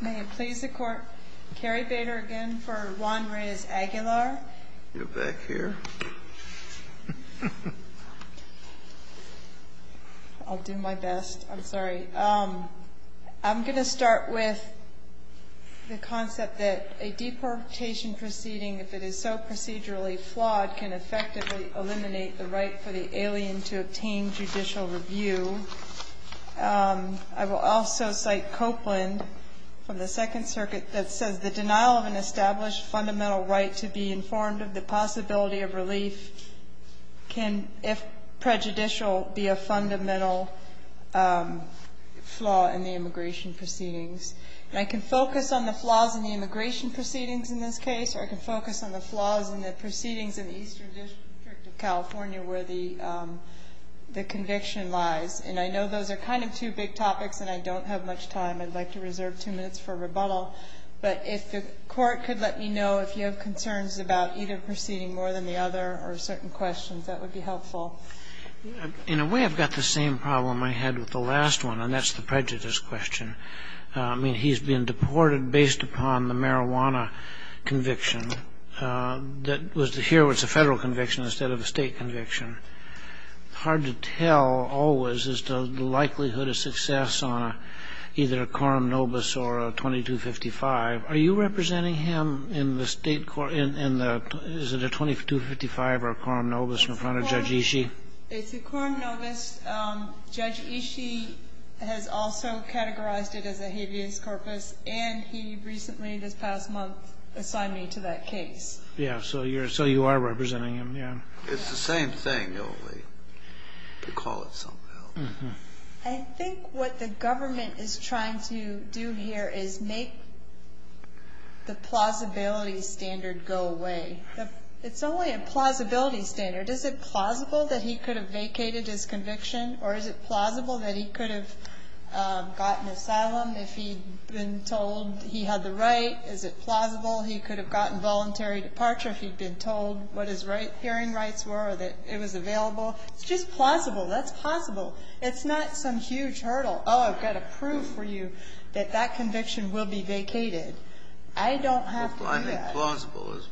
May it please the Court, Carrie Bader again for Juan Reyes-Aguilar. You're back here. I'll do my best. I'm sorry. I'm going to start with the concept that a deportation proceeding, if it is so procedurally flawed, can effectively eliminate the right for the alien to obtain judicial review. I will also cite Copeland from the Second Circuit that says, the denial of an established fundamental right to be informed of the possibility of relief can, if prejudicial, be a fundamental flaw in the immigration proceedings. And I can focus on the flaws in the immigration proceedings in this case, or I can focus on the flaws in the proceedings in the Eastern District of California where the conviction lies. And I know those are kind of two big topics, and I don't have much time. I'd like to reserve two minutes for rebuttal. But if the Court could let me know if you have concerns about either proceeding more than the other or certain questions, that would be helpful. In a way, I've got the same problem I had with the last one, and that's the prejudice question. I mean, he's been deported based upon the marijuana conviction. Here, it's a Federal conviction instead of a State conviction. Hard to tell always as to the likelihood of success on either a quorum nobis or a 2255. Are you representing him in the State court in the 2255 or quorum nobis in front of Judge Ishii? It's a quorum nobis. Judge Ishii has also categorized it as a habeas corpus, and he recently, this past month, assigned me to that case. Yeah, so you are representing him. It's the same thing, you'll recall it somehow. I think what the government is trying to do here is make the plausibility standard go away. It's only a plausibility standard. Is it plausible that he could have vacated his conviction, or is it plausible that he could have gotten asylum if he'd been told he had the right? Is it plausible he could have gotten voluntary departure if he'd been told what his hearing rights were or that it was available? It's just plausible. That's possible. It's not some huge hurdle. Oh, I've got to prove for you that that conviction will be vacated. I don't have to do that. Well, I think plausible is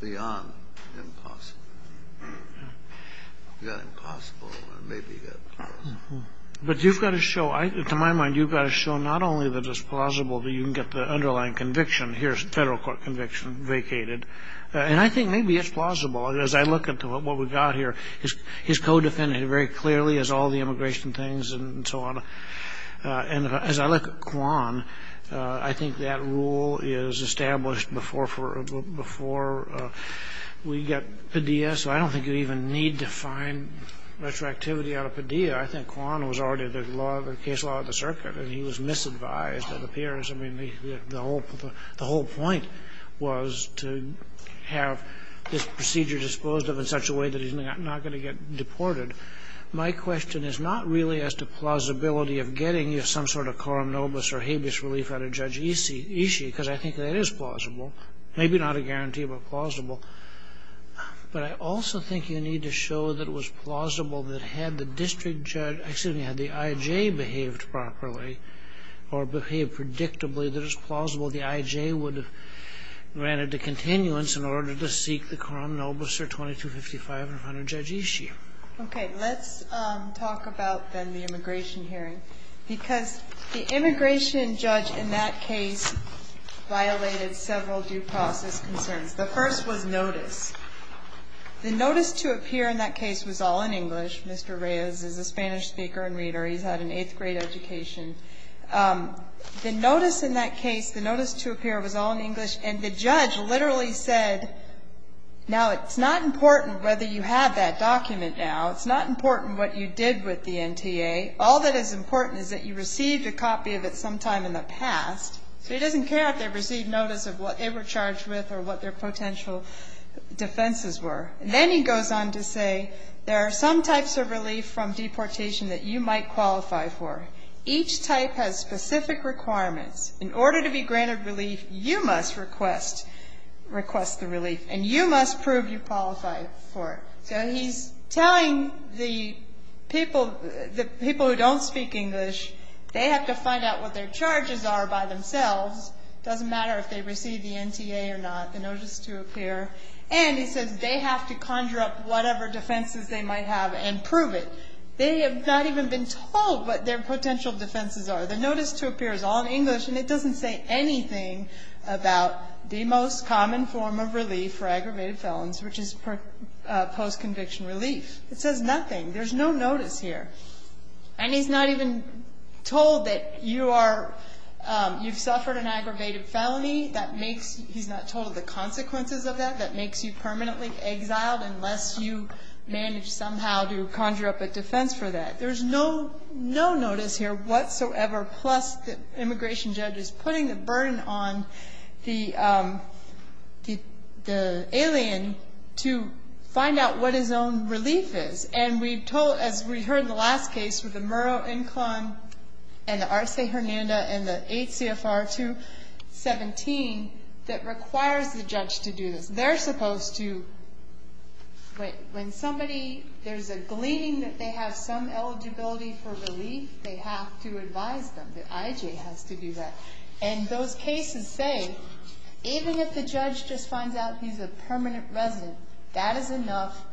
beyond impossible. You've got impossible, and maybe you've got plausible. But you've got to show, to my mind, you've got to show not only that it's plausible, but you can get the underlying conviction. Here's Federal Court conviction vacated. And I think maybe it's plausible. As I look at what we've got here, his co-defendant very clearly has all the immigration things and so on. And as I look at Quan, I think that rule is established before we get Padilla. So I don't think you even need to find retroactivity out of Padilla. I think Quan was already the case law of the circuit, and he was misadvised, it appears. I mean, the whole point was to have this procedure disposed of in such a way that he's not going to get deported. My question is not really as to plausibility of getting some sort of quorum nobis or habeas relief out of Judge Ishii, because I think that is plausible. Maybe not a guarantee, but plausible. But I also think you need to show that it was plausible that had the district judge – excuse me, had the IJ behaved properly or behaved predictably, that it was plausible the IJ would have granted a continuance in order to seek the quorum nobis or 2255 in front of Judge Ishii. Okay. Let's talk about then the immigration hearing. Because the immigration judge in that case violated several due process concerns. The first was notice. The notice to appear in that case was all in English. Mr. Reyes is a Spanish speaker and reader. He's had an eighth-grade education. The notice in that case, the notice to appear was all in English, and the judge literally said, now, it's not important whether you have that document now. It's not important what you did with the NTA. All that is important is that you received a copy of it sometime in the past. So he doesn't care if they received notice of what they were charged with or what their potential defenses were. Then he goes on to say there are some types of relief from deportation that you might qualify for. Each type has specific requirements. In order to be granted relief, you must request the relief, and you must prove you qualify for it. So he's telling the people who don't speak English, they have to find out what their charges are by themselves. It doesn't matter if they received the NTA or not, the notice to appear. And he says they have to conjure up whatever defenses they might have and prove it. They have not even been told what their potential defenses are. The notice to appear is all in English, and it doesn't say anything about the most common form of relief for aggravated felons, which is post-conviction relief. It says nothing. There's no notice here. And he's not even told that you've suffered an aggravated felony. He's not told of the consequences of that, that makes you permanently exiled unless you manage somehow to conjure up a defense for that. There's no notice here whatsoever, plus the immigration judge is putting the burden on the alien to find out what his own relief is. And we've told, as we heard in the last case with the Murrow-Inclon and the Arce-Hernanda and the 8 CFR 217, that requires the judge to do this. They're supposed to wait. When somebody, there's a gleaning that they have some eligibility for relief, they have to advise them. The IJ has to do that. And those cases say, even if the judge just finds out he's a permanent resident, that is enough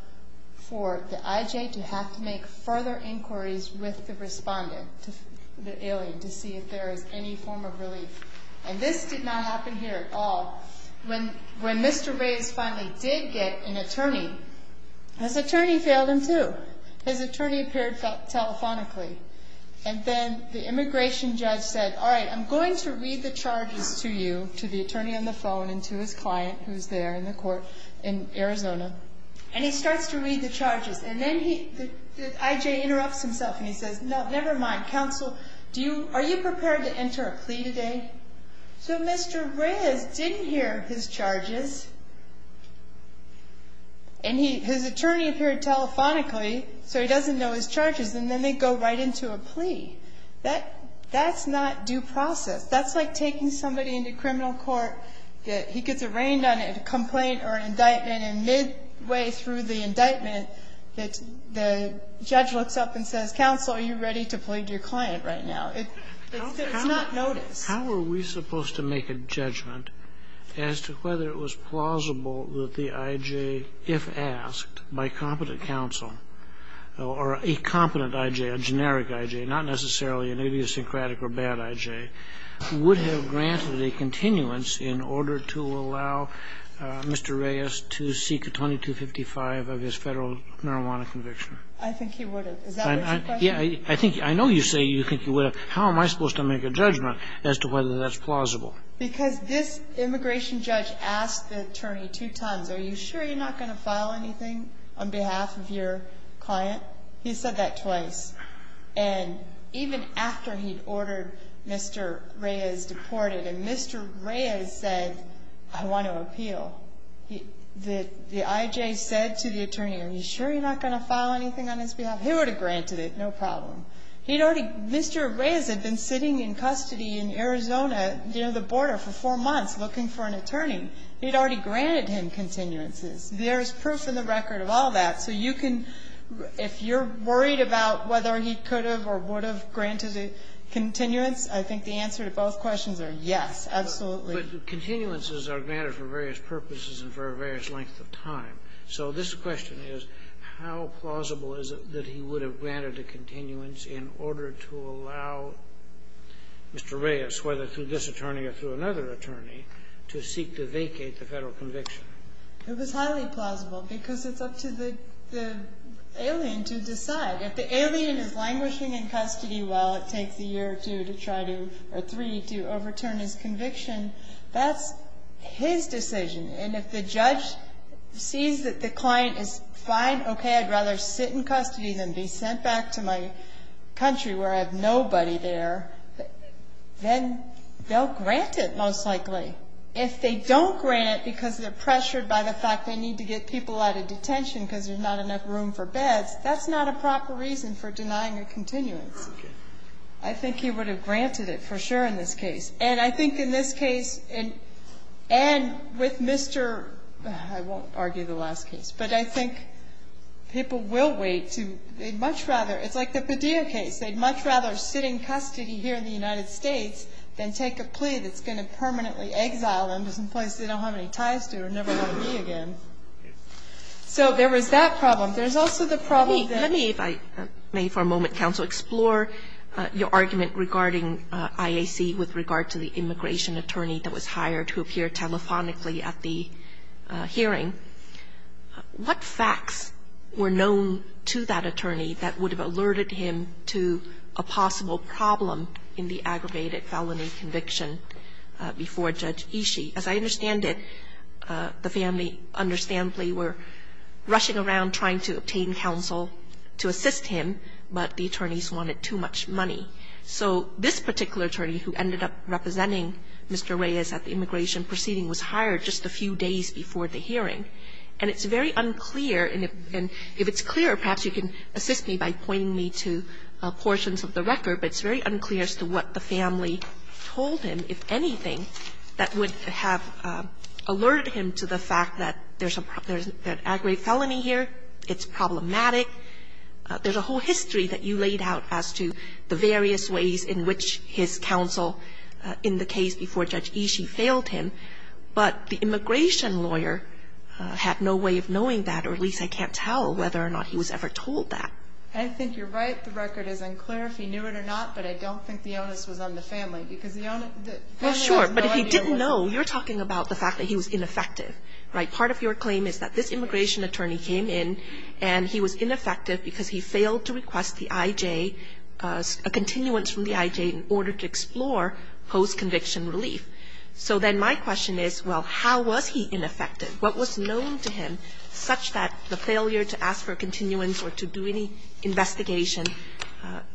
for the IJ to have to make further inquiries with the respondent, the alien, to see if there is any form of relief. And this did not happen here at all. When Mr. Reyes finally did get an attorney, his attorney failed him too. His attorney appeared telephonically. And then the immigration judge said, all right, I'm going to read the charges to you, to the attorney on the phone and to his client who's there in the court in Arizona. And he starts to read the charges. And then the IJ interrupts himself and he says, no, never mind. Counsel, are you prepared to enter a plea today? So Mr. Reyes didn't hear his charges. And his attorney appeared telephonically, so he doesn't know his charges. And then they go right into a plea. That's not due process. That's like taking somebody into criminal court, he gets arraigned on a complaint or an indictment, and midway through the indictment, the judge looks up and says, counsel, are you ready to plead your client right now? It's not notice. How are we supposed to make a judgment as to whether it was plausible that the IJ, if asked by competent counsel, or a competent IJ, a generic IJ, not necessarily an idiosyncratic or bad IJ, would have granted a continuance in order to allow Mr. Reyes to seek a 2255 of his Federal marijuana conviction? I think he would have. Is that what you're questioning? I know you say you think he would have. How am I supposed to make a judgment as to whether that's plausible? Because this immigration judge asked the attorney two times, are you sure you're not going to file anything on behalf of your client? He said that twice. And even after he'd ordered Mr. Reyes deported and Mr. Reyes said, I want to appeal, the IJ said to the attorney, are you sure you're not going to file anything on his behalf? He would have granted it, no problem. He'd already Mr. Reyes had been sitting in custody in Arizona near the border for four months looking for an attorney. He'd already granted him continuances. There's proof in the record of all that. So you can, if you're worried about whether he could have or would have granted a continuance, I think the answer to both questions are yes, absolutely. So this question is, how plausible is it that he would have granted a continuance in order to allow Mr. Reyes, whether through this attorney or through another attorney, to seek to vacate the Federal conviction? It was highly plausible because it's up to the alien to decide. If the alien is languishing in custody while it takes a year or two to try to or three to overturn his conviction, that's his decision. And if the judge sees that the client is fine, okay, I'd rather sit in custody than be sent back to my country where I have nobody there, then they'll grant it most likely. If they don't grant it because they're pressured by the fact they need to get people out of detention because there's not enough room for beds, that's not a proper reason for denying a continuance. I think he would have granted it for sure in this case. And I think in this case, and with Mr. ---- I won't argue the last case. But I think people will wait to ---- they'd much rather. It's like the Padilla case. They'd much rather sit in custody here in the United States than take a plea that's going to permanently exile them to some place they don't have any ties to or never want to be again. So there was that problem. There's also the problem that ---- I'm going to, for a moment, counsel, explore your argument regarding IAC with regard to the immigration attorney that was hired to appear telephonically at the hearing. What facts were known to that attorney that would have alerted him to a possible problem in the aggravated felony conviction before Judge Ishii? As I understand it, the family understandably were rushing around trying to obtain immigration counsel to assist him, but the attorneys wanted too much money. So this particular attorney who ended up representing Mr. Reyes at the immigration proceeding was hired just a few days before the hearing. And it's very unclear, and if it's clear, perhaps you can assist me by pointing me to portions of the record, but it's very unclear as to what the family told him, if anything, that would have alerted him to the fact that there's a ---- there's a problem, it's problematic. There's a whole history that you laid out as to the various ways in which his counsel in the case before Judge Ishii failed him. But the immigration lawyer had no way of knowing that, or at least I can't tell whether or not he was ever told that. I think you're right. The record is unclear if he knew it or not, but I don't think the onus was on the family because the family has no idea. Well, sure. But if he didn't know, you're talking about the fact that he was ineffective, right? Part of your claim is that this immigration attorney came in and he was ineffective because he failed to request the IJ, a continuance from the IJ, in order to explore post-conviction relief. So then my question is, well, how was he ineffective? What was known to him such that the failure to ask for a continuance or to do any investigation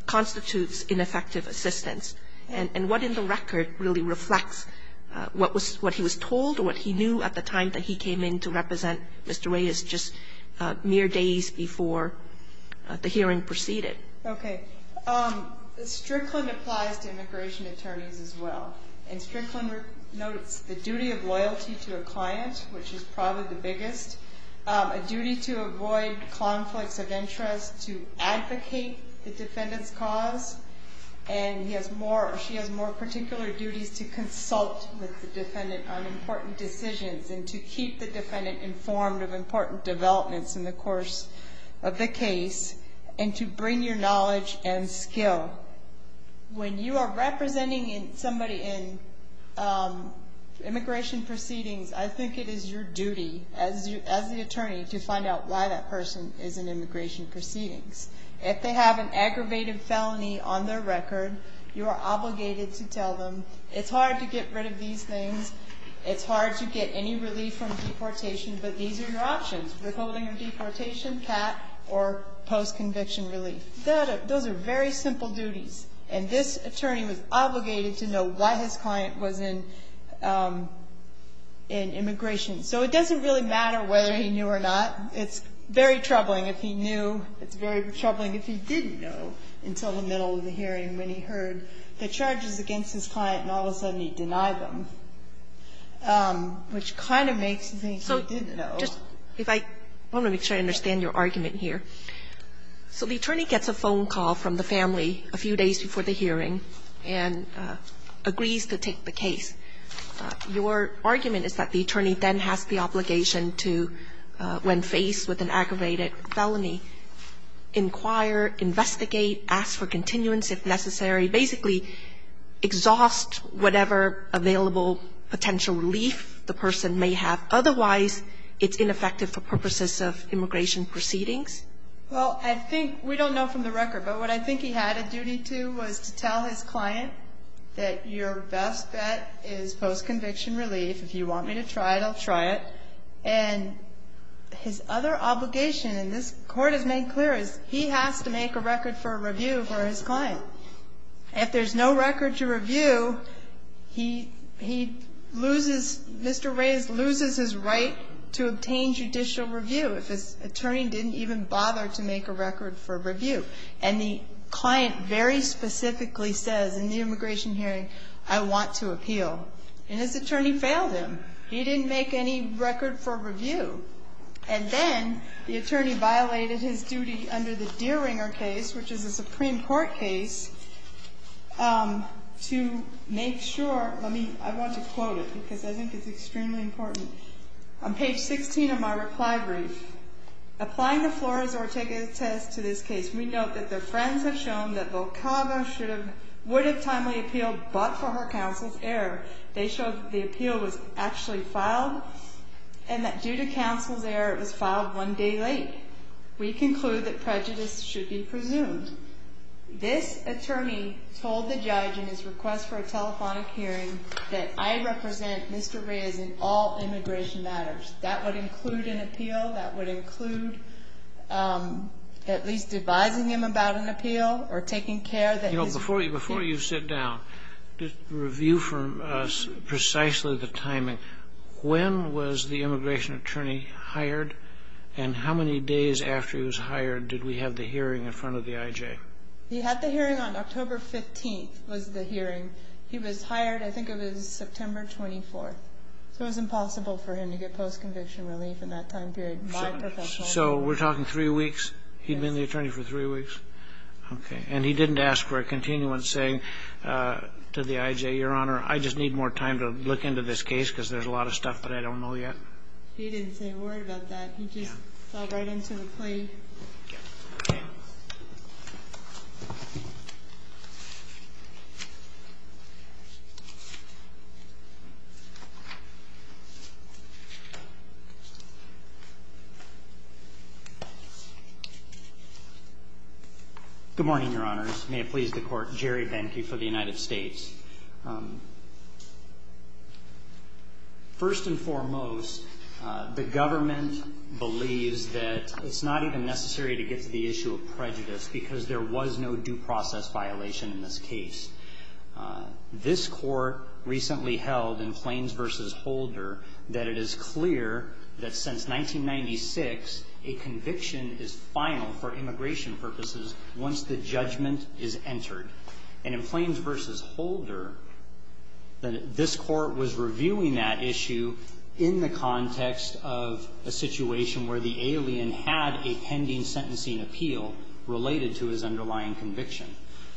constitutes ineffective assistance? And what in the record really reflects what was ---- what he was told or what he knew at the time that he came in to represent Mr. Reyes just mere days before the hearing proceeded? Okay. Strickland applies to immigration attorneys as well. And Strickland notes the duty of loyalty to a client, which is probably the biggest, a duty to avoid conflicts of interest, to advocate the defendant's cause, and he has more particular duties to consult with the defendant on important decisions and to keep the defendant informed of important developments in the course of the case and to bring your knowledge and skill. When you are representing somebody in immigration proceedings, I think it is your duty as the attorney to find out why that person is in immigration proceedings. If they have an aggravated felony on their record, you are obligated to tell them, it's hard to get rid of these things, it's hard to get any relief from deportation, but these are your options, withholding of deportation, CAT, or post-conviction relief. Those are very simple duties. And this attorney was obligated to know why his client was in immigration. So it doesn't really matter whether he knew or not. It's very troubling if he knew. It's very troubling if he didn't know until the middle of the hearing when he heard the charges against his client and all of a sudden he denied them, which kind of makes me think he did know. So just if I want to make sure I understand your argument here. So the attorney gets a phone call from the family a few days before the hearing and agrees to take the case. Your argument is that the attorney then has the obligation to, when faced with an aggravated felony, inquire, investigate, ask for continuance if necessary, basically exhaust whatever available potential relief the person may have. Otherwise, it's ineffective for purposes of immigration proceedings? Well, I think we don't know from the record, but what I think he had a duty to was to get his post-conviction relief. If you want me to try it, I'll try it. And his other obligation, and this Court has made clear, is he has to make a record for a review for his client. If there's no record to review, he loses, Mr. Reyes loses his right to obtain judicial review if his attorney didn't even bother to make a record for a review. And the client very specifically says in the immigration hearing, I want to appeal. And his attorney failed him. He didn't make any record for review. And then the attorney violated his duty under the Deeringer case, which is a Supreme Court case, to make sure. I want to quote it because I think it's extremely important. On page 16 of my reply brief, applying to Flores or taking a test to this case, we note that their friends have shown that Volcago would have timely appealed but for her counsel's error. They showed that the appeal was actually filed and that due to counsel's error, it was filed one day late. We conclude that prejudice should be presumed. This attorney told the judge in his request for a telephonic hearing that I represent Mr. Reyes in all immigration matters. That would include an appeal. That would include at least advising him about an appeal or taking care that his Before you sit down, just review for us precisely the timing. When was the immigration attorney hired? And how many days after he was hired did we have the hearing in front of the IJ? He had the hearing on October 15th was the hearing. He was hired, I think it was September 24th. So it was impossible for him to get post-conviction relief in that time period. So we're talking three weeks. He'd been the attorney for three weeks. Okay. And he didn't ask for a continuance saying to the IJ, Your Honor, I just need more time to look into this case because there's a lot of stuff that I don't know yet. He didn't say a word about that. He just fell right into the plea. Good morning, Your Honors. May it please the Court. Jerry Benke for the United States. First and foremost, the government believes that it's not even necessary to get to the issue of prejudice because there was no due process violation in this case. This Court recently held in Plains v. Holder that it is clear that since 1996, a conviction is final for immigration purposes once the judgment is entered. And in Plains v. Holder, this Court was reviewing that issue in the context of a situation where the alien had a pending sentencing appeal related to his underlying conviction.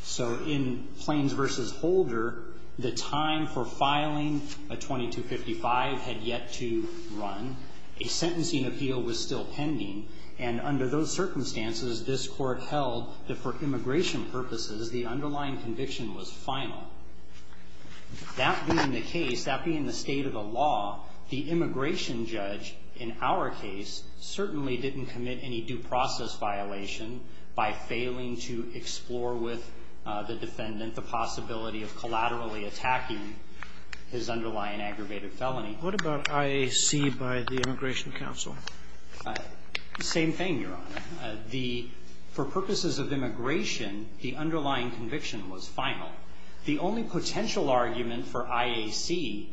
So in Plains v. Holder, the time for filing a 2255 had yet to run. A sentencing appeal was still pending. And under those circumstances, this Court held that for immigration purposes, the underlying conviction was final. That being the case, that being the state of the law, the immigration judge in our case certainly didn't commit any due process violation by failing to explore with the defendant the possibility of collaterally attacking his underlying aggravated felony. What about IAC by the Immigration Council? Same thing, Your Honor. For purposes of immigration, the underlying conviction was final. The only potential argument for IAC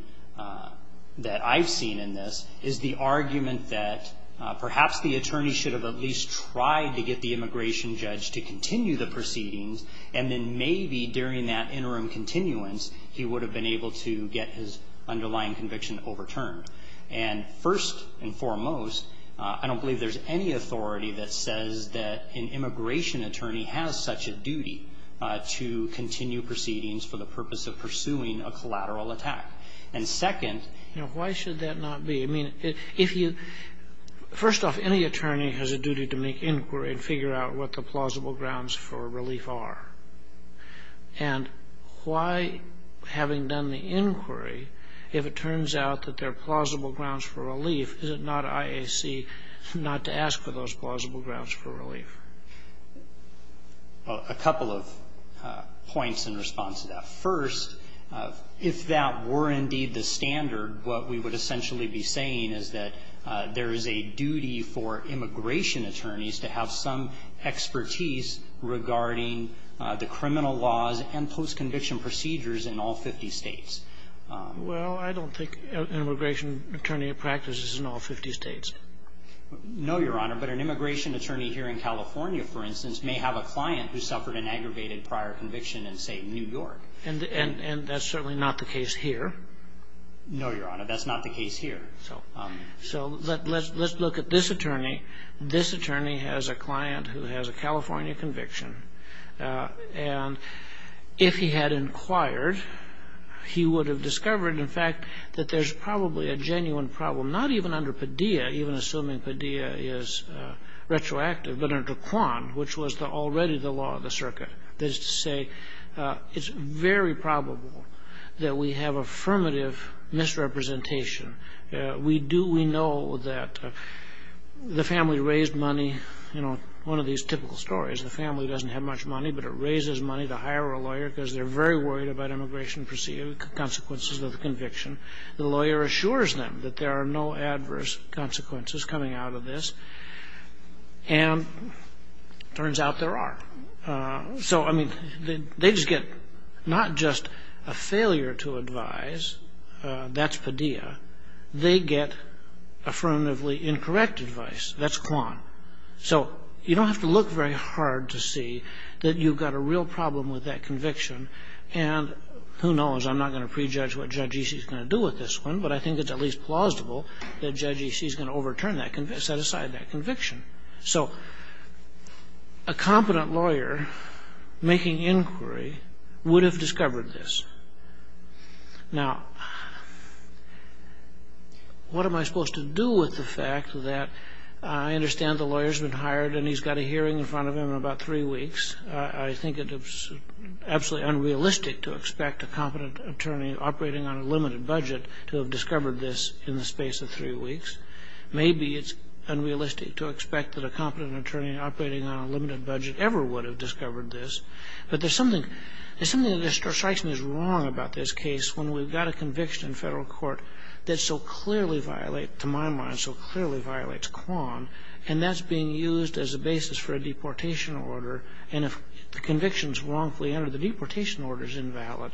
that I've seen in this is the argument that perhaps the attorney should have at least tried to get the immigration judge to continue the proceedings and then maybe during that interim continuance, he would have been able to get his underlying conviction overturned. And first and foremost, I don't believe there's any authority that says that an immigration attorney has such a duty to continue proceedings for the purpose of pursuing a collateral attack. And second, you know, why should that not be? I mean, if you – first off, any attorney has a duty to make inquiry and figure out what the plausible grounds for relief are. And why, having done the inquiry, if it turns out that there are plausible grounds for relief, is it not IAC not to ask for those plausible grounds for relief? Well, a couple of points in response to that. First, if that were indeed the standard, what we would essentially be saying is that there is a duty for immigration attorneys to have some expertise regarding the criminal laws and post-conviction procedures in all 50 States. Well, I don't think an immigration attorney practices in all 50 States. No, Your Honor. But an immigration attorney here in California, for instance, may have a client who suffered an aggravated prior conviction in, say, New York. And that's certainly not the case here. No, Your Honor. That's not the case here. So let's look at this attorney. This attorney has a client who has a California conviction. And if he had inquired, he would have discovered, in fact, that there's probably a genuine problem, not even under Padilla, even assuming Padilla is retroactive, but under Quan, which was already the law of the circuit. That is to say, it's very probable that we have affirmative misrepresentation. We do we know that the family raised money. You know, one of these typical stories. The family doesn't have much money, but it raises money to hire a lawyer because they're very worried about immigration consequences of the conviction. The lawyer assures them that there are no adverse consequences coming out of this. And it turns out there are. So, I mean, they just get not just a failure to advise. That's Padilla. They get affirmatively incorrect advice. That's Quan. So you don't have to look very hard to see that you've got a real problem with that conviction. And who knows? I'm not going to prejudge what Judge E.C. is going to do with this one, but I think it's at least plausible that Judge E.C. is going to overturn that, set aside that conviction. So a competent lawyer making inquiry would have discovered this. Now, what am I supposed to do with the fact that I understand the lawyer's been hired and he's got a hearing in front of him in about three weeks. I think it's absolutely unrealistic to expect a competent attorney operating on a limited budget to have discovered this in the space of three weeks. Maybe it's unrealistic to expect that a competent attorney operating on a limited budget ever would have discovered this. But there's something that strikes me as wrong about this case when we've got a conviction in federal court that so clearly violates, to my mind, so clearly violates Quan, and that's being used as a basis for a deportation order. And if the conviction is wrongfully entered, the deportation order is invalid.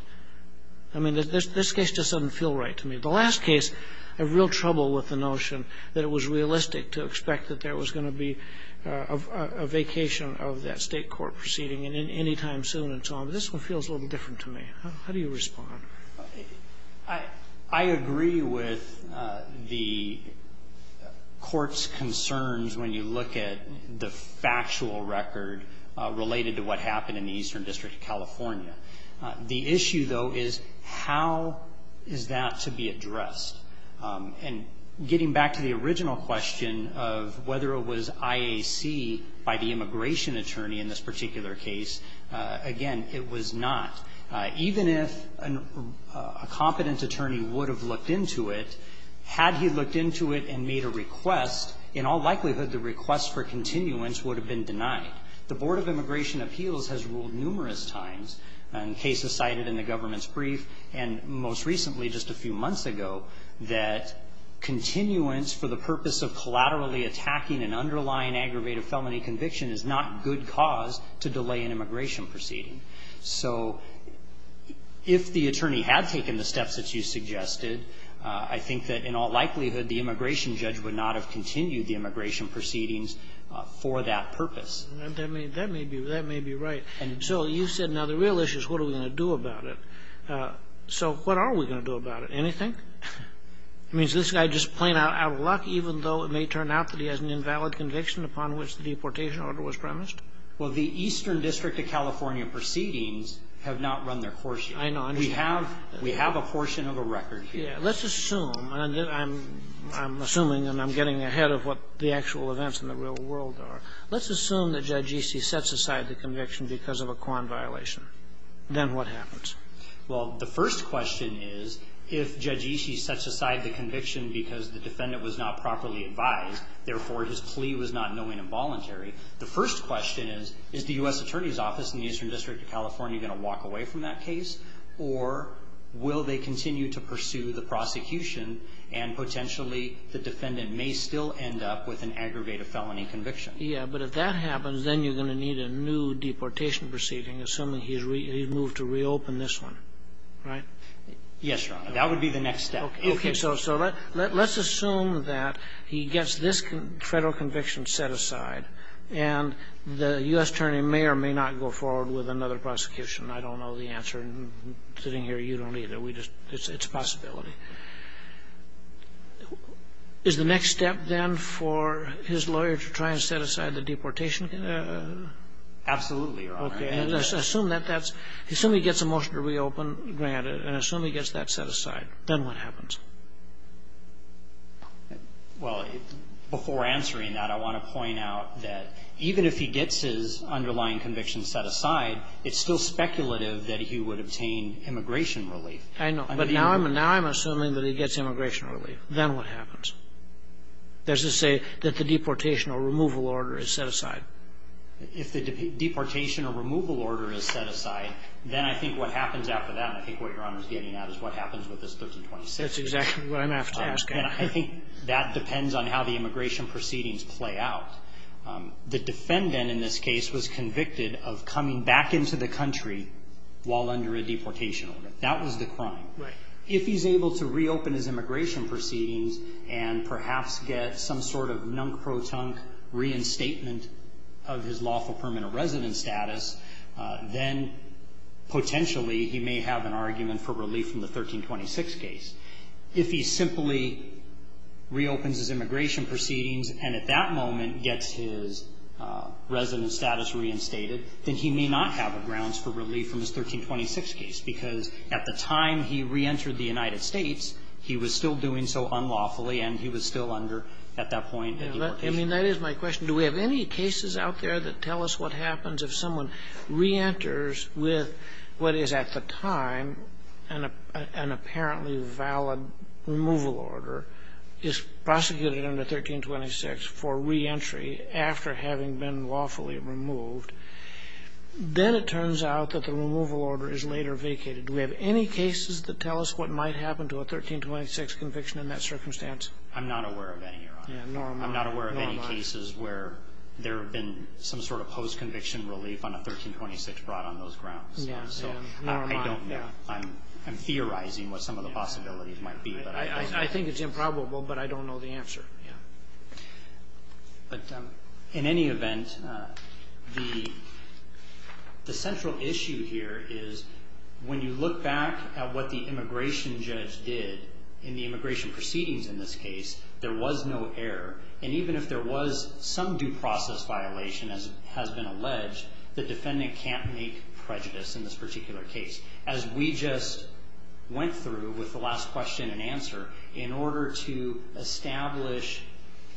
I mean, this case just doesn't feel right to me. The last case, I have real trouble with the notion that it was realistic to expect that there was going to be a vacation of that State court proceeding anytime soon and so on. But this one feels a little different to me. How do you respond? I agree with the Court's concerns when you look at the factual record related to what happened in the Eastern District of California. The issue, though, is how is that to be addressed? And getting back to the original question of whether it was IAC by the immigration attorney in this particular case, again, it was not. Even if a competent attorney would have looked into it, had he looked into it and made a request, in all likelihood the request for continuance would have been denied. The Board of Immigration Appeals has ruled numerous times, and cases cited in the government's that continuance for the purpose of collaterally attacking an underlying aggravated felony conviction is not good cause to delay an immigration proceeding. So if the attorney had taken the steps that you suggested, I think that in all likelihood the immigration judge would not have continued the immigration proceedings for that purpose. That may be right. And so you said now the real issue is what are we going to do about it. So what are we going to do about it? Anything? I mean, is this guy just plain out of luck, even though it may turn out that he has an invalid conviction upon which the deportation order was premised? Well, the Eastern District of California proceedings have not run their course yet. I know. We have a portion of a record here. Yeah. Let's assume, and I'm assuming and I'm getting ahead of what the actual events in the real world are. Let's assume that Judge Easey sets aside the conviction because of a Quan violation. Then what happens? Well, the first question is if Judge Easey sets aside the conviction because the defendant was not properly advised, therefore his plea was not knowing and voluntary, the first question is, is the U.S. Attorney's Office in the Eastern District of California going to walk away from that case, or will they continue to pursue the prosecution and potentially the defendant may still end up with an aggravated felony conviction? Yeah. But if that happens, then you're going to need a new deportation proceeding assuming he's moved to reopen this one, right? Yes, Your Honor. That would be the next step. Okay. So let's assume that he gets this federal conviction set aside and the U.S. Attorney may or may not go forward with another prosecution. I don't know the answer. Sitting here, you don't either. It's a possibility. Is the next step then for his lawyer to try and set aside the deportation? Absolutely, Your Honor. Okay. Assume that that's he gets a motion to reopen granted and assume he gets that set aside. Then what happens? Well, before answering that, I want to point out that even if he gets his underlying conviction set aside, it's still speculative that he would obtain immigration relief. I know. But now I'm assuming that he gets immigration relief. Then what happens? Does it say that the deportation or removal order is set aside? If the deportation or removal order is set aside, then I think what happens after that and I think what Your Honor is getting at is what happens with this 1326. That's exactly what I'm after. And I think that depends on how the immigration proceedings play out. The defendant in this case was convicted of coming back into the country while under a deportation order. That was the crime. Right. If he's able to reopen his immigration proceedings and perhaps get some sort of pro-tunk reinstatement of his lawful permanent residence status, then potentially he may have an argument for relief from the 1326 case. If he simply reopens his immigration proceedings and at that moment gets his resident status reinstated, then he may not have a grounds for relief from his 1326 case because at the time he reentered the United States, he was still doing so unlawfully and he was still under at that point a deportation order. I mean, that is my question. Do we have any cases out there that tell us what happens if someone reenters with what is at the time an apparently valid removal order, is prosecuted under 1326 for reentry after having been lawfully removed, then it turns out that the removal order is later vacated. Do we have any cases that tell us what might happen to a 1326 conviction in that circumstance? I'm not aware of any, Your Honor. Nor am I. I'm not aware of any cases where there have been some sort of post-conviction relief on a 1326 brought on those grounds. Nor am I. I don't know. I'm theorizing what some of the possibilities might be. I think it's improbable, but I don't know the answer. But in any event, the central issue here is when you look back at what the immigration judge did in the immigration proceedings in this case, there was no error. And even if there was some due process violation, as has been alleged, the defendant can't make prejudice in this particular case. As we just went through with the last question and answer, in order to establish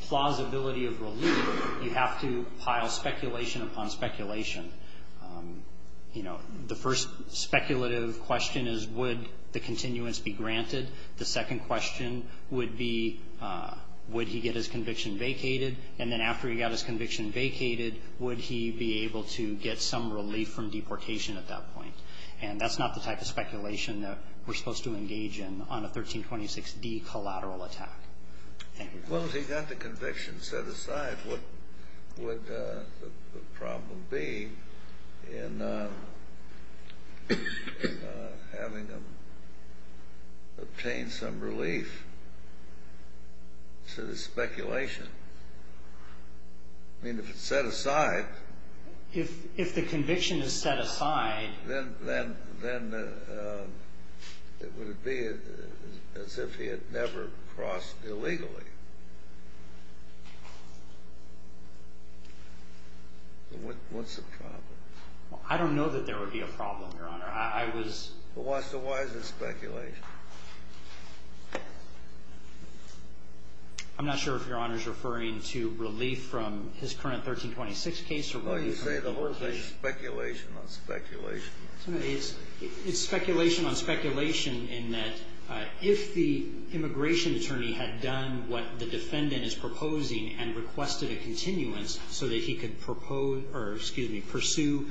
plausibility of relief, you have to pile speculation upon speculation. You know, the first speculative question is, would the continuance be granted? The second question would be, would he get his conviction vacated? And then after he got his conviction vacated, would he be able to get some relief from deportation at that point? And that's not the type of speculation that we're supposed to engage in on a 1326D collateral attack. Well, if he got the conviction set aside, what would the problem be in having him obtain some relief to the speculation? I mean, if it's set aside. If the conviction is set aside. Then it would be as if he had never crossed illegally. What's the problem? I don't know that there would be a problem, Your Honor. I was. Well, why is it speculation? I'm not sure if Your Honor is referring to relief from his current 1326 case or You say the whole thing is speculation on speculation. It's speculation on speculation in that if the immigration attorney had done what the defendant is proposing and requested a continuance so that he could propose or, excuse me, pursue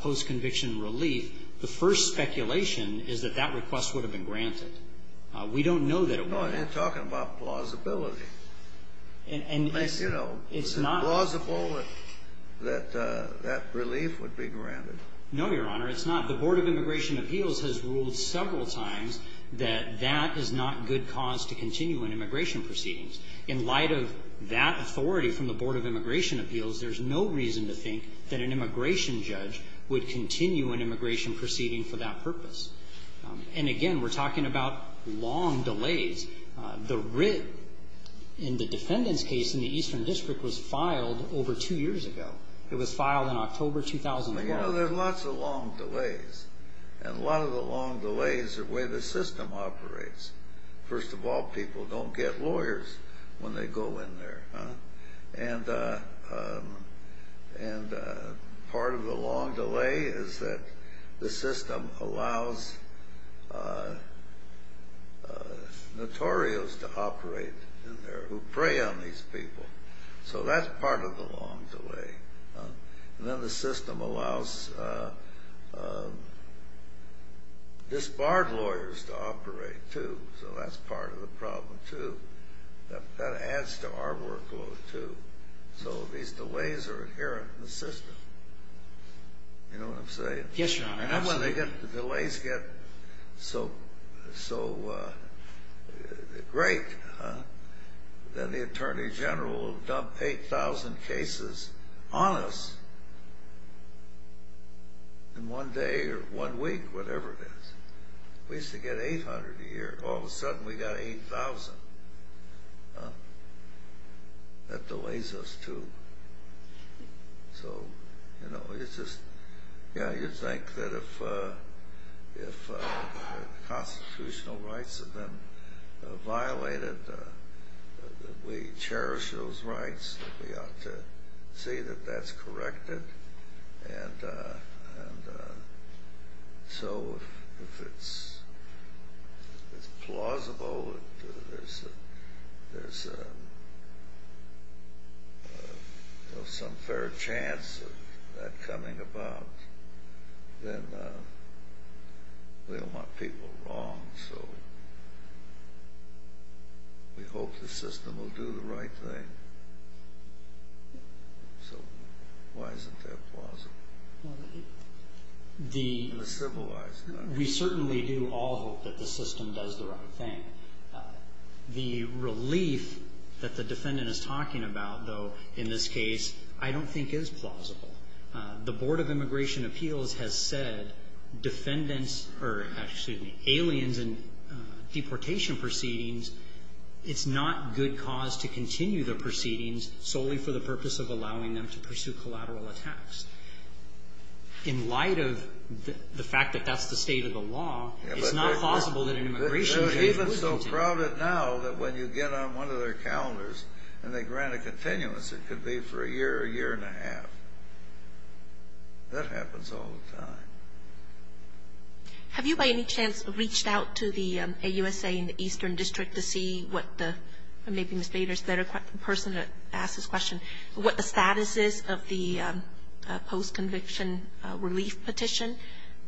post-conviction relief, the first speculation is that that request would have been granted. We don't know that it would have. You're talking about plausibility. Is it plausible that that relief would be granted? No, Your Honor, it's not. The Board of Immigration Appeals has ruled several times that that is not good cause to continue an immigration proceedings. In light of that authority from the Board of Immigration Appeals, there's no reason to think that an immigration judge would continue an immigration proceeding for that purpose. And, again, we're talking about long delays. The writ in the defendant's case in the Eastern District was filed over two years ago. It was filed in October 2012. Well, you know, there's lots of long delays. And a lot of the long delays are the way the system operates. First of all, people don't get lawyers when they go in there. And part of the long delay is that the system allows notorios to operate in there who prey on these people. So that's part of the long delay. And then the system allows disbarred lawyers to operate, too. So that's part of the problem, too. That adds to our workload, too. So these delays are inherent in the system. You know what I'm saying? Yes, Your Honor. And when the delays get so great that the Attorney General will dump 8,000 cases on us in one day or one week, whatever it is. We used to get 800 a year. All of a sudden, we've got 8,000. That delays us, too. So, you know, you'd think that if constitutional rights have been violated, that we cherish those rights, that we ought to see that that's corrected. And so if it's plausible, if there's some fair chance of that coming about, then we don't want people wrong. So we hope the system will do the right thing. So why isn't that plausible? In a civilized manner. We certainly do all hope that the system does the right thing. The relief that the defendant is talking about, though, in this case, I don't think is plausible. The Board of Immigration Appeals has said aliens and deportation proceedings, it's not good cause to continue the proceedings solely for the purpose of allowing them to pursue collateral attacks. In light of the fact that that's the state of the law, it's not plausible that an immigration case would continue. They're even so crowded now that when you get on one of their calendars and they grant a continuance, it could be for a year, a year and a half. That happens all the time. Have you by any chance reached out to the AUSA in the Eastern District to see what the maybe Ms. Bader is a better person to ask this question, what the status is of the post-conviction relief petition?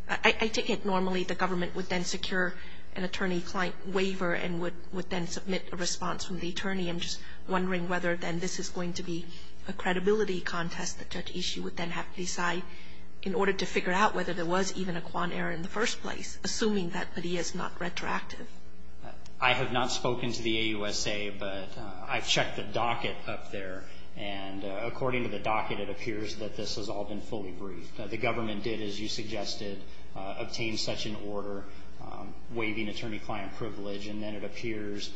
I take it normally the government would then secure an attorney waiver and would then submit a response from the attorney. I'm just wondering whether then this is going to be a credibility contest that Judge Ishii would then have to decide in order to figure out whether there was even a Kwan error in the first place, assuming that Padilla is not retroactive. I have not spoken to the AUSA, but I've checked the docket up there, and according to the docket it appears that this has all been fully briefed. The government did, as you suggested, obtain such an order waiving attorney-client privilege, and then it appears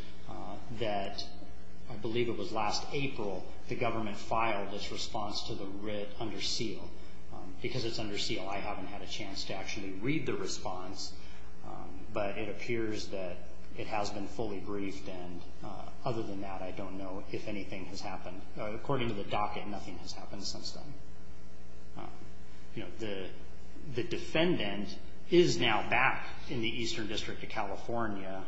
that I believe it was last April the government filed its response to the writ under seal. Because it's under seal, I haven't had a chance to actually read the response, but it appears that it has been fully briefed, and other than that I don't know if anything has happened. According to the docket, nothing has happened since then. The defendant is now back in the Eastern District of California.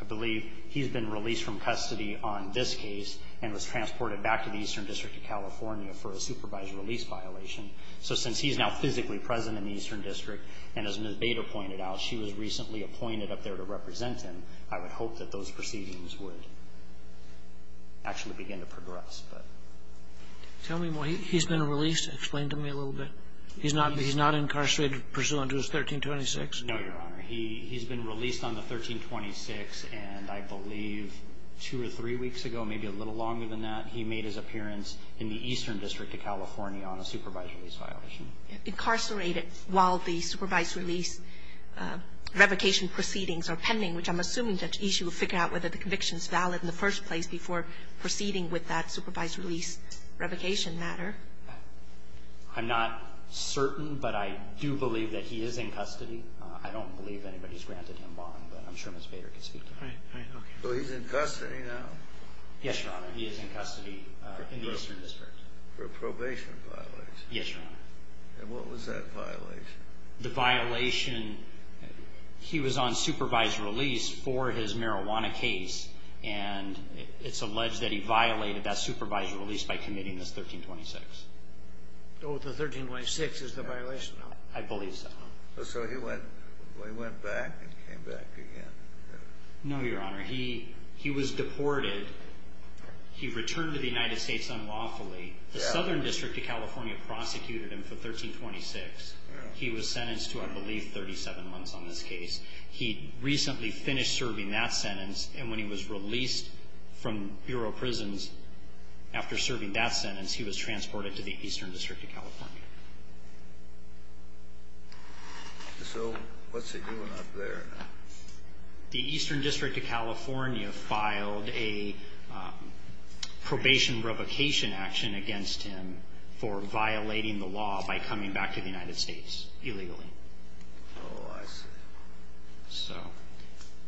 I believe he's been released from custody on this case and was transported back to the Eastern District of California for a supervised release violation. So since he's now physically present in the Eastern District, and as Ms. Bader pointed out, she was recently appointed up there to represent him, I would hope that those proceedings would actually begin to progress. Tell me more. He's been released? Explain to me a little bit. He's not incarcerated pursuant to 1326? No, Your Honor. He's been released on the 1326, and I believe two or three weeks ago, maybe a little longer than that, he made his appearance in the Eastern District of California on a supervised release violation. Incarcerated while the supervised release revocation proceedings are pending, which I'm assuming that the issue of figuring out whether the conviction is valid in the first place before proceeding with that supervised release revocation matter. I'm not certain, but I do believe that he is in custody. I don't believe anybody has granted him bond, but I'm sure Ms. Bader can speak to that. So he's in custody now? Yes, Your Honor. He is in custody in the Eastern District. For a probation violation? Yes, Your Honor. And what was that violation? The violation, he was on supervised release for his marijuana case, and it's alleged that he violated that supervised release by committing this 1326. Oh, the 1326 is the violation? I believe so. So he went back and came back again? No, Your Honor. He was deported. He returned to the United States unlawfully. The Southern District of California prosecuted him for 1326. He was sentenced to, I believe, 37 months on this case. He recently finished serving that sentence, and when he was released from Bureau of Prisons after serving that sentence, he was transported to the Eastern District of California. So what's he doing up there now? The Eastern District of California filed a probation revocation action against him for violating the law by coming back to the United States illegally. Oh, I see. So.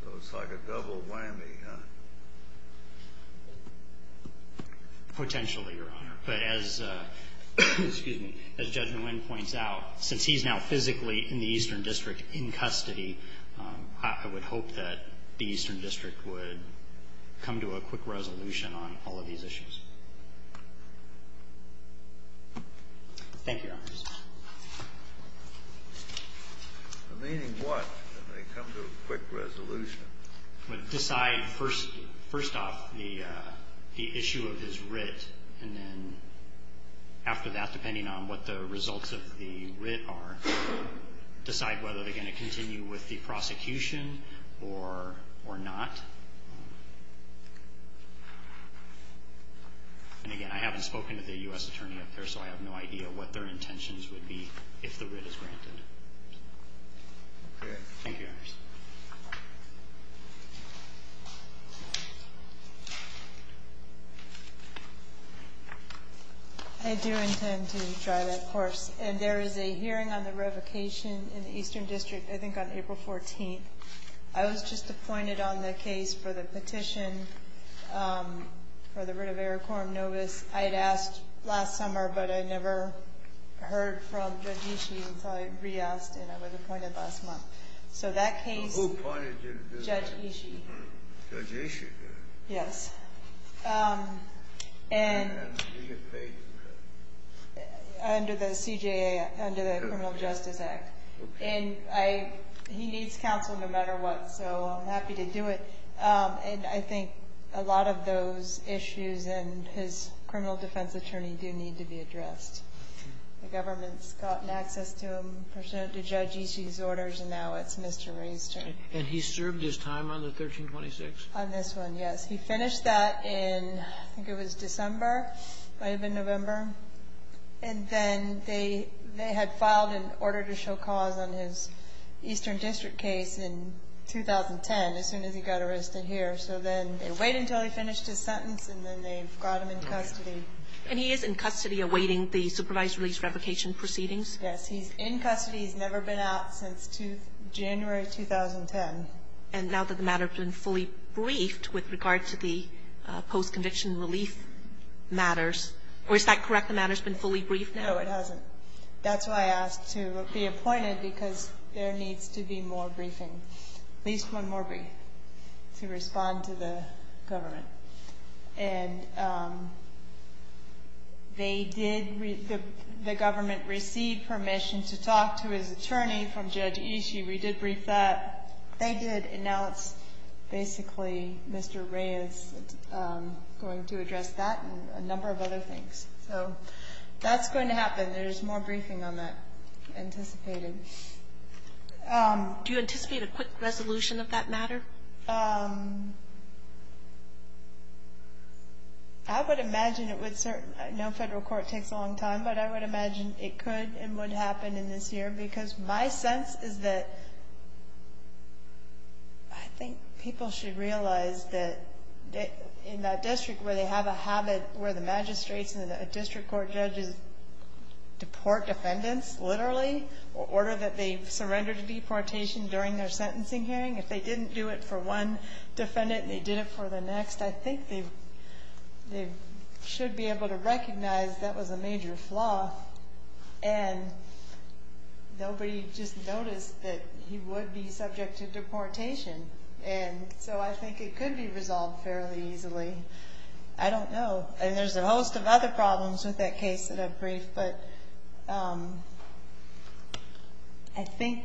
So it's like a double whammy, huh? Potentially, Your Honor. But as Judge Nguyen points out, since he's now physically in the Eastern District in custody, I would hope that the Eastern District would come to a quick resolution on all of these issues. Thank you, Your Honor. Meaning what, that they come to a quick resolution? Decide first off the issue of his writ, and then after that, depending on what the results of the writ are, decide whether they're going to continue with the prosecution or not. And again, I haven't spoken to the U.S. Attorney up there, so I have no idea what their intentions would be if the writ is granted. Okay. Thank you, Your Honor. I do intend to try that course. And there is a hearing on the revocation in the Eastern District, I think, on April 14th. I was just appointed on the case for the petition for the writ of Eric Corum Novus. I had asked last summer, but I never heard from Judge Ishii until I re-asked, and I was appointed last month. So that case, Judge Ishii. Judge Ishii? Yes. Under the CJA, under the Criminal Justice Act. And he needs counsel no matter what, so I'm happy to do it. And I think a lot of those issues and his criminal defense attorney do need to be addressed. The government's gotten access to him, personally to Judge Ishii's orders, and now it's Mr. Ray's turn. And he served his time on the 1326? On this one, yes. He finished that in, I think it was December, might have been November. And then they had filed an order to show cause on his Eastern District case in 2010, as soon as he got arrested here. So then they wait until he finished his sentence, and then they've got him in custody. And he is in custody awaiting the supervised release revocation proceedings? Yes. He's in custody. He's never been out since January 2010. And now that the matter's been fully briefed with regard to the post-conviction relief matters, or is that correct? The matter's been fully briefed now? No, it hasn't. That's why I asked to be appointed, because there needs to be more briefing, at least one more brief, to respond to the government. And they did, the government received permission to talk to his attorney from Judge Ishii. We did brief that. They did. And now it's basically Mr. Ray is going to address that and a number of other things. So that's going to happen. There's more briefing on that anticipated. Do you anticipate a quick resolution of that matter? I would imagine it would. I know federal court takes a long time, but I would imagine it could and would happen in this year. Because my sense is that I think people should realize that in that district where they have a habit where the magistrates and the district court judges deport defendants, literally, in order that they've surrendered to deportation during their sentencing hearing. If they didn't do it for one defendant and they did it for the next, I think they should be able to recognize that was a major flaw. And nobody just noticed that he would be subject to deportation. And so I think it could be resolved fairly easily. I don't know. And there's a host of other problems with that case that I've briefed. But I think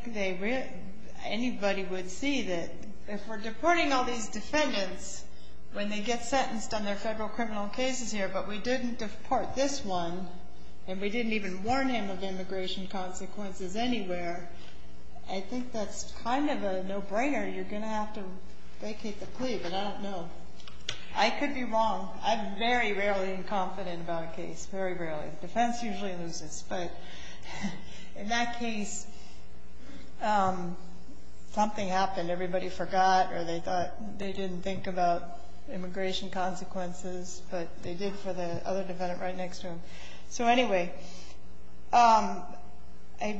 anybody would see that if we're deporting all these defendants when they get sentenced on their federal criminal cases here, but we didn't deport this one, and we didn't even warn him of immigration consequences anywhere, I think that's kind of a no-brainer. You're going to have to vacate the plea, but I don't know. I could be wrong. I'm very rarely incompetent about a case, very rarely. The defense usually loses. But in that case, something happened. Everybody forgot or they didn't think about immigration consequences, but they did for the other defendant right next to him. So, anyway, I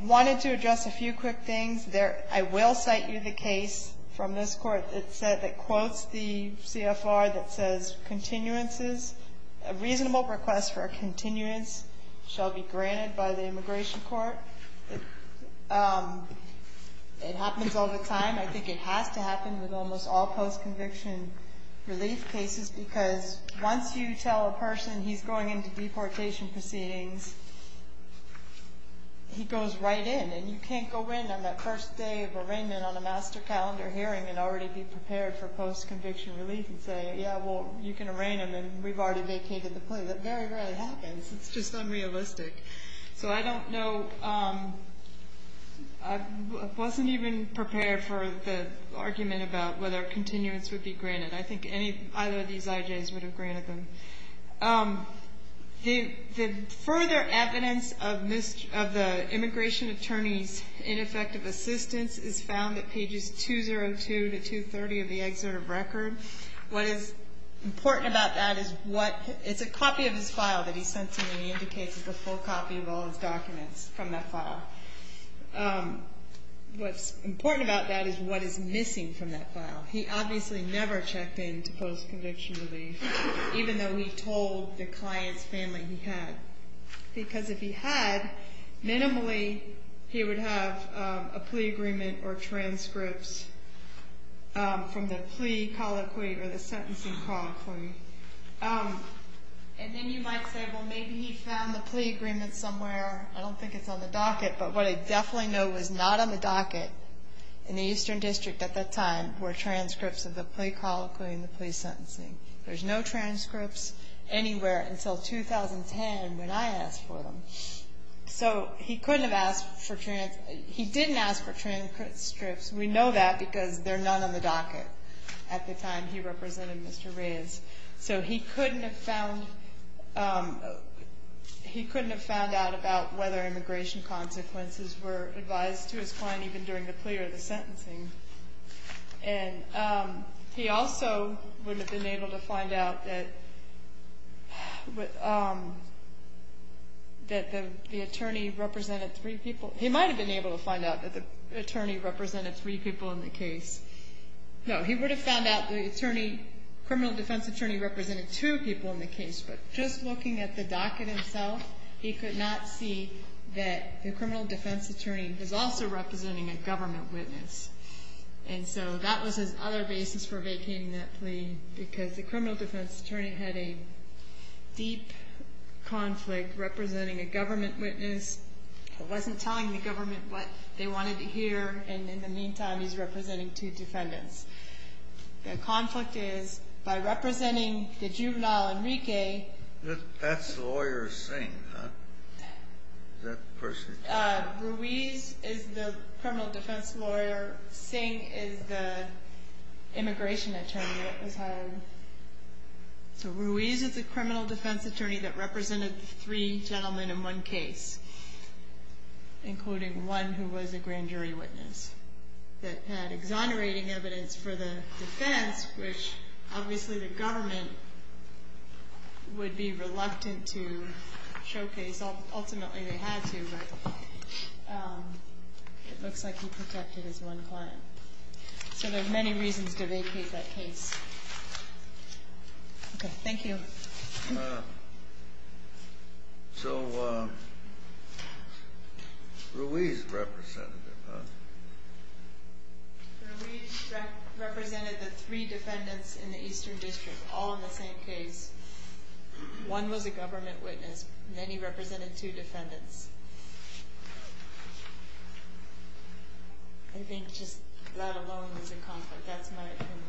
wanted to address a few quick things. I will cite you the case from this court that quotes the CFR that says a reasonable request for a continuance shall be granted by the immigration court. It happens all the time. I think it has to happen with almost all post-conviction relief cases because once you tell a person he's going into deportation proceedings, he goes right in. And you can't go in on that first day of arraignment on a master calendar hearing and already be prepared for post-conviction relief and say, yeah, well, you can arraign him and we've already vacated the plea. That very rarely happens. It's just unrealistic. So I don't know. I wasn't even prepared for the argument about whether continuance would be granted. I think either of these IJs would have granted them. The further evidence of the immigration attorney's ineffective assistance is found at pages 202 to 230 of the excerpt of record. What is important about that is it's a copy of his file that he sends him and he indicates it's a full copy of all his documents from that file. What's important about that is what is missing from that file. He obviously never checked in to post-conviction relief, even though we told the client's family he had. Because if he had, minimally he would have a plea agreement or transcripts from the plea colloquy or the sentencing colloquy. And then you might say, well, maybe he found the plea agreement somewhere. I don't think it's on the docket, but what I definitely know was not on the docket in the Eastern District at that time were transcripts of the plea colloquy and the plea sentencing. There's no transcripts anywhere until 2010 when I asked for them. So he couldn't have asked for transcripts. He didn't ask for transcripts. We know that because they're not on the docket at the time he represented Mr. Reyes. So he couldn't have found out about whether immigration consequences were advised to his client even during the plea or the sentencing. And he also would have been able to find out that the attorney represented three people. He might have been able to find out that the attorney represented three people in the case. No, he would have found out the criminal defense attorney represented two people in the case. But just looking at the docket himself, he could not see that the criminal defense attorney was also representing a government witness. And so that was his other basis for vacating that plea because the criminal defense attorney had a deep conflict representing a government witness. He wasn't telling the government what they wanted to hear, and in the meantime he's representing two defendants. The conflict is by representing the juvenile Enrique. That's the lawyer's thing, huh? Is that the person? Ruiz is the criminal defense lawyer. Singh is the immigration attorney that was hired. So Ruiz is the criminal defense attorney that represented three gentlemen in one case, including one who was a grand jury witness that had exonerating evidence for the defense, which obviously the government would be reluctant to showcase. Ultimately they had to, but it looks like he protected his one client. So there are many reasons to vacate that case. Okay, thank you. So Ruiz represented them, huh? Ruiz represented the three defendants in the Eastern District, all in the same case. One was a government witness, and then he represented two defendants. I think just that alone was a conflict. That's my opinion.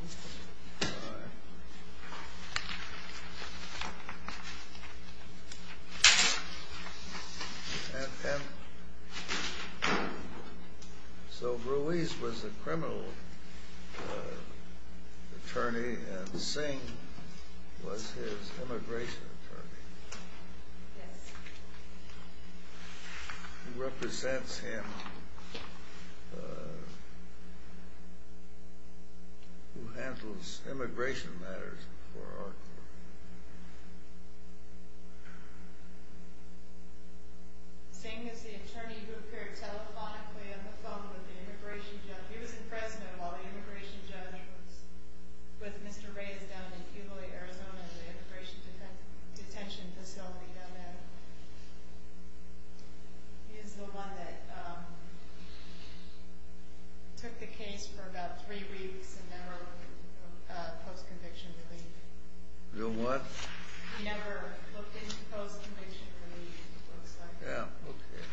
All right. So Ruiz was the criminal attorney, and Singh was his immigration attorney. Yes. Who represents him, who handles immigration matters for our court. Singh is the attorney who appeared telephonically on the phone with the immigration judge. He was in Fresno while the immigration judge was with Mr. Ruiz down in Keloy, Arizona, in the immigration detention facility down there. He is the one that took the case for about three weeks and never went into post-conviction relief. Never what? He never looked into post-conviction relief, it looks like. Yeah, okay.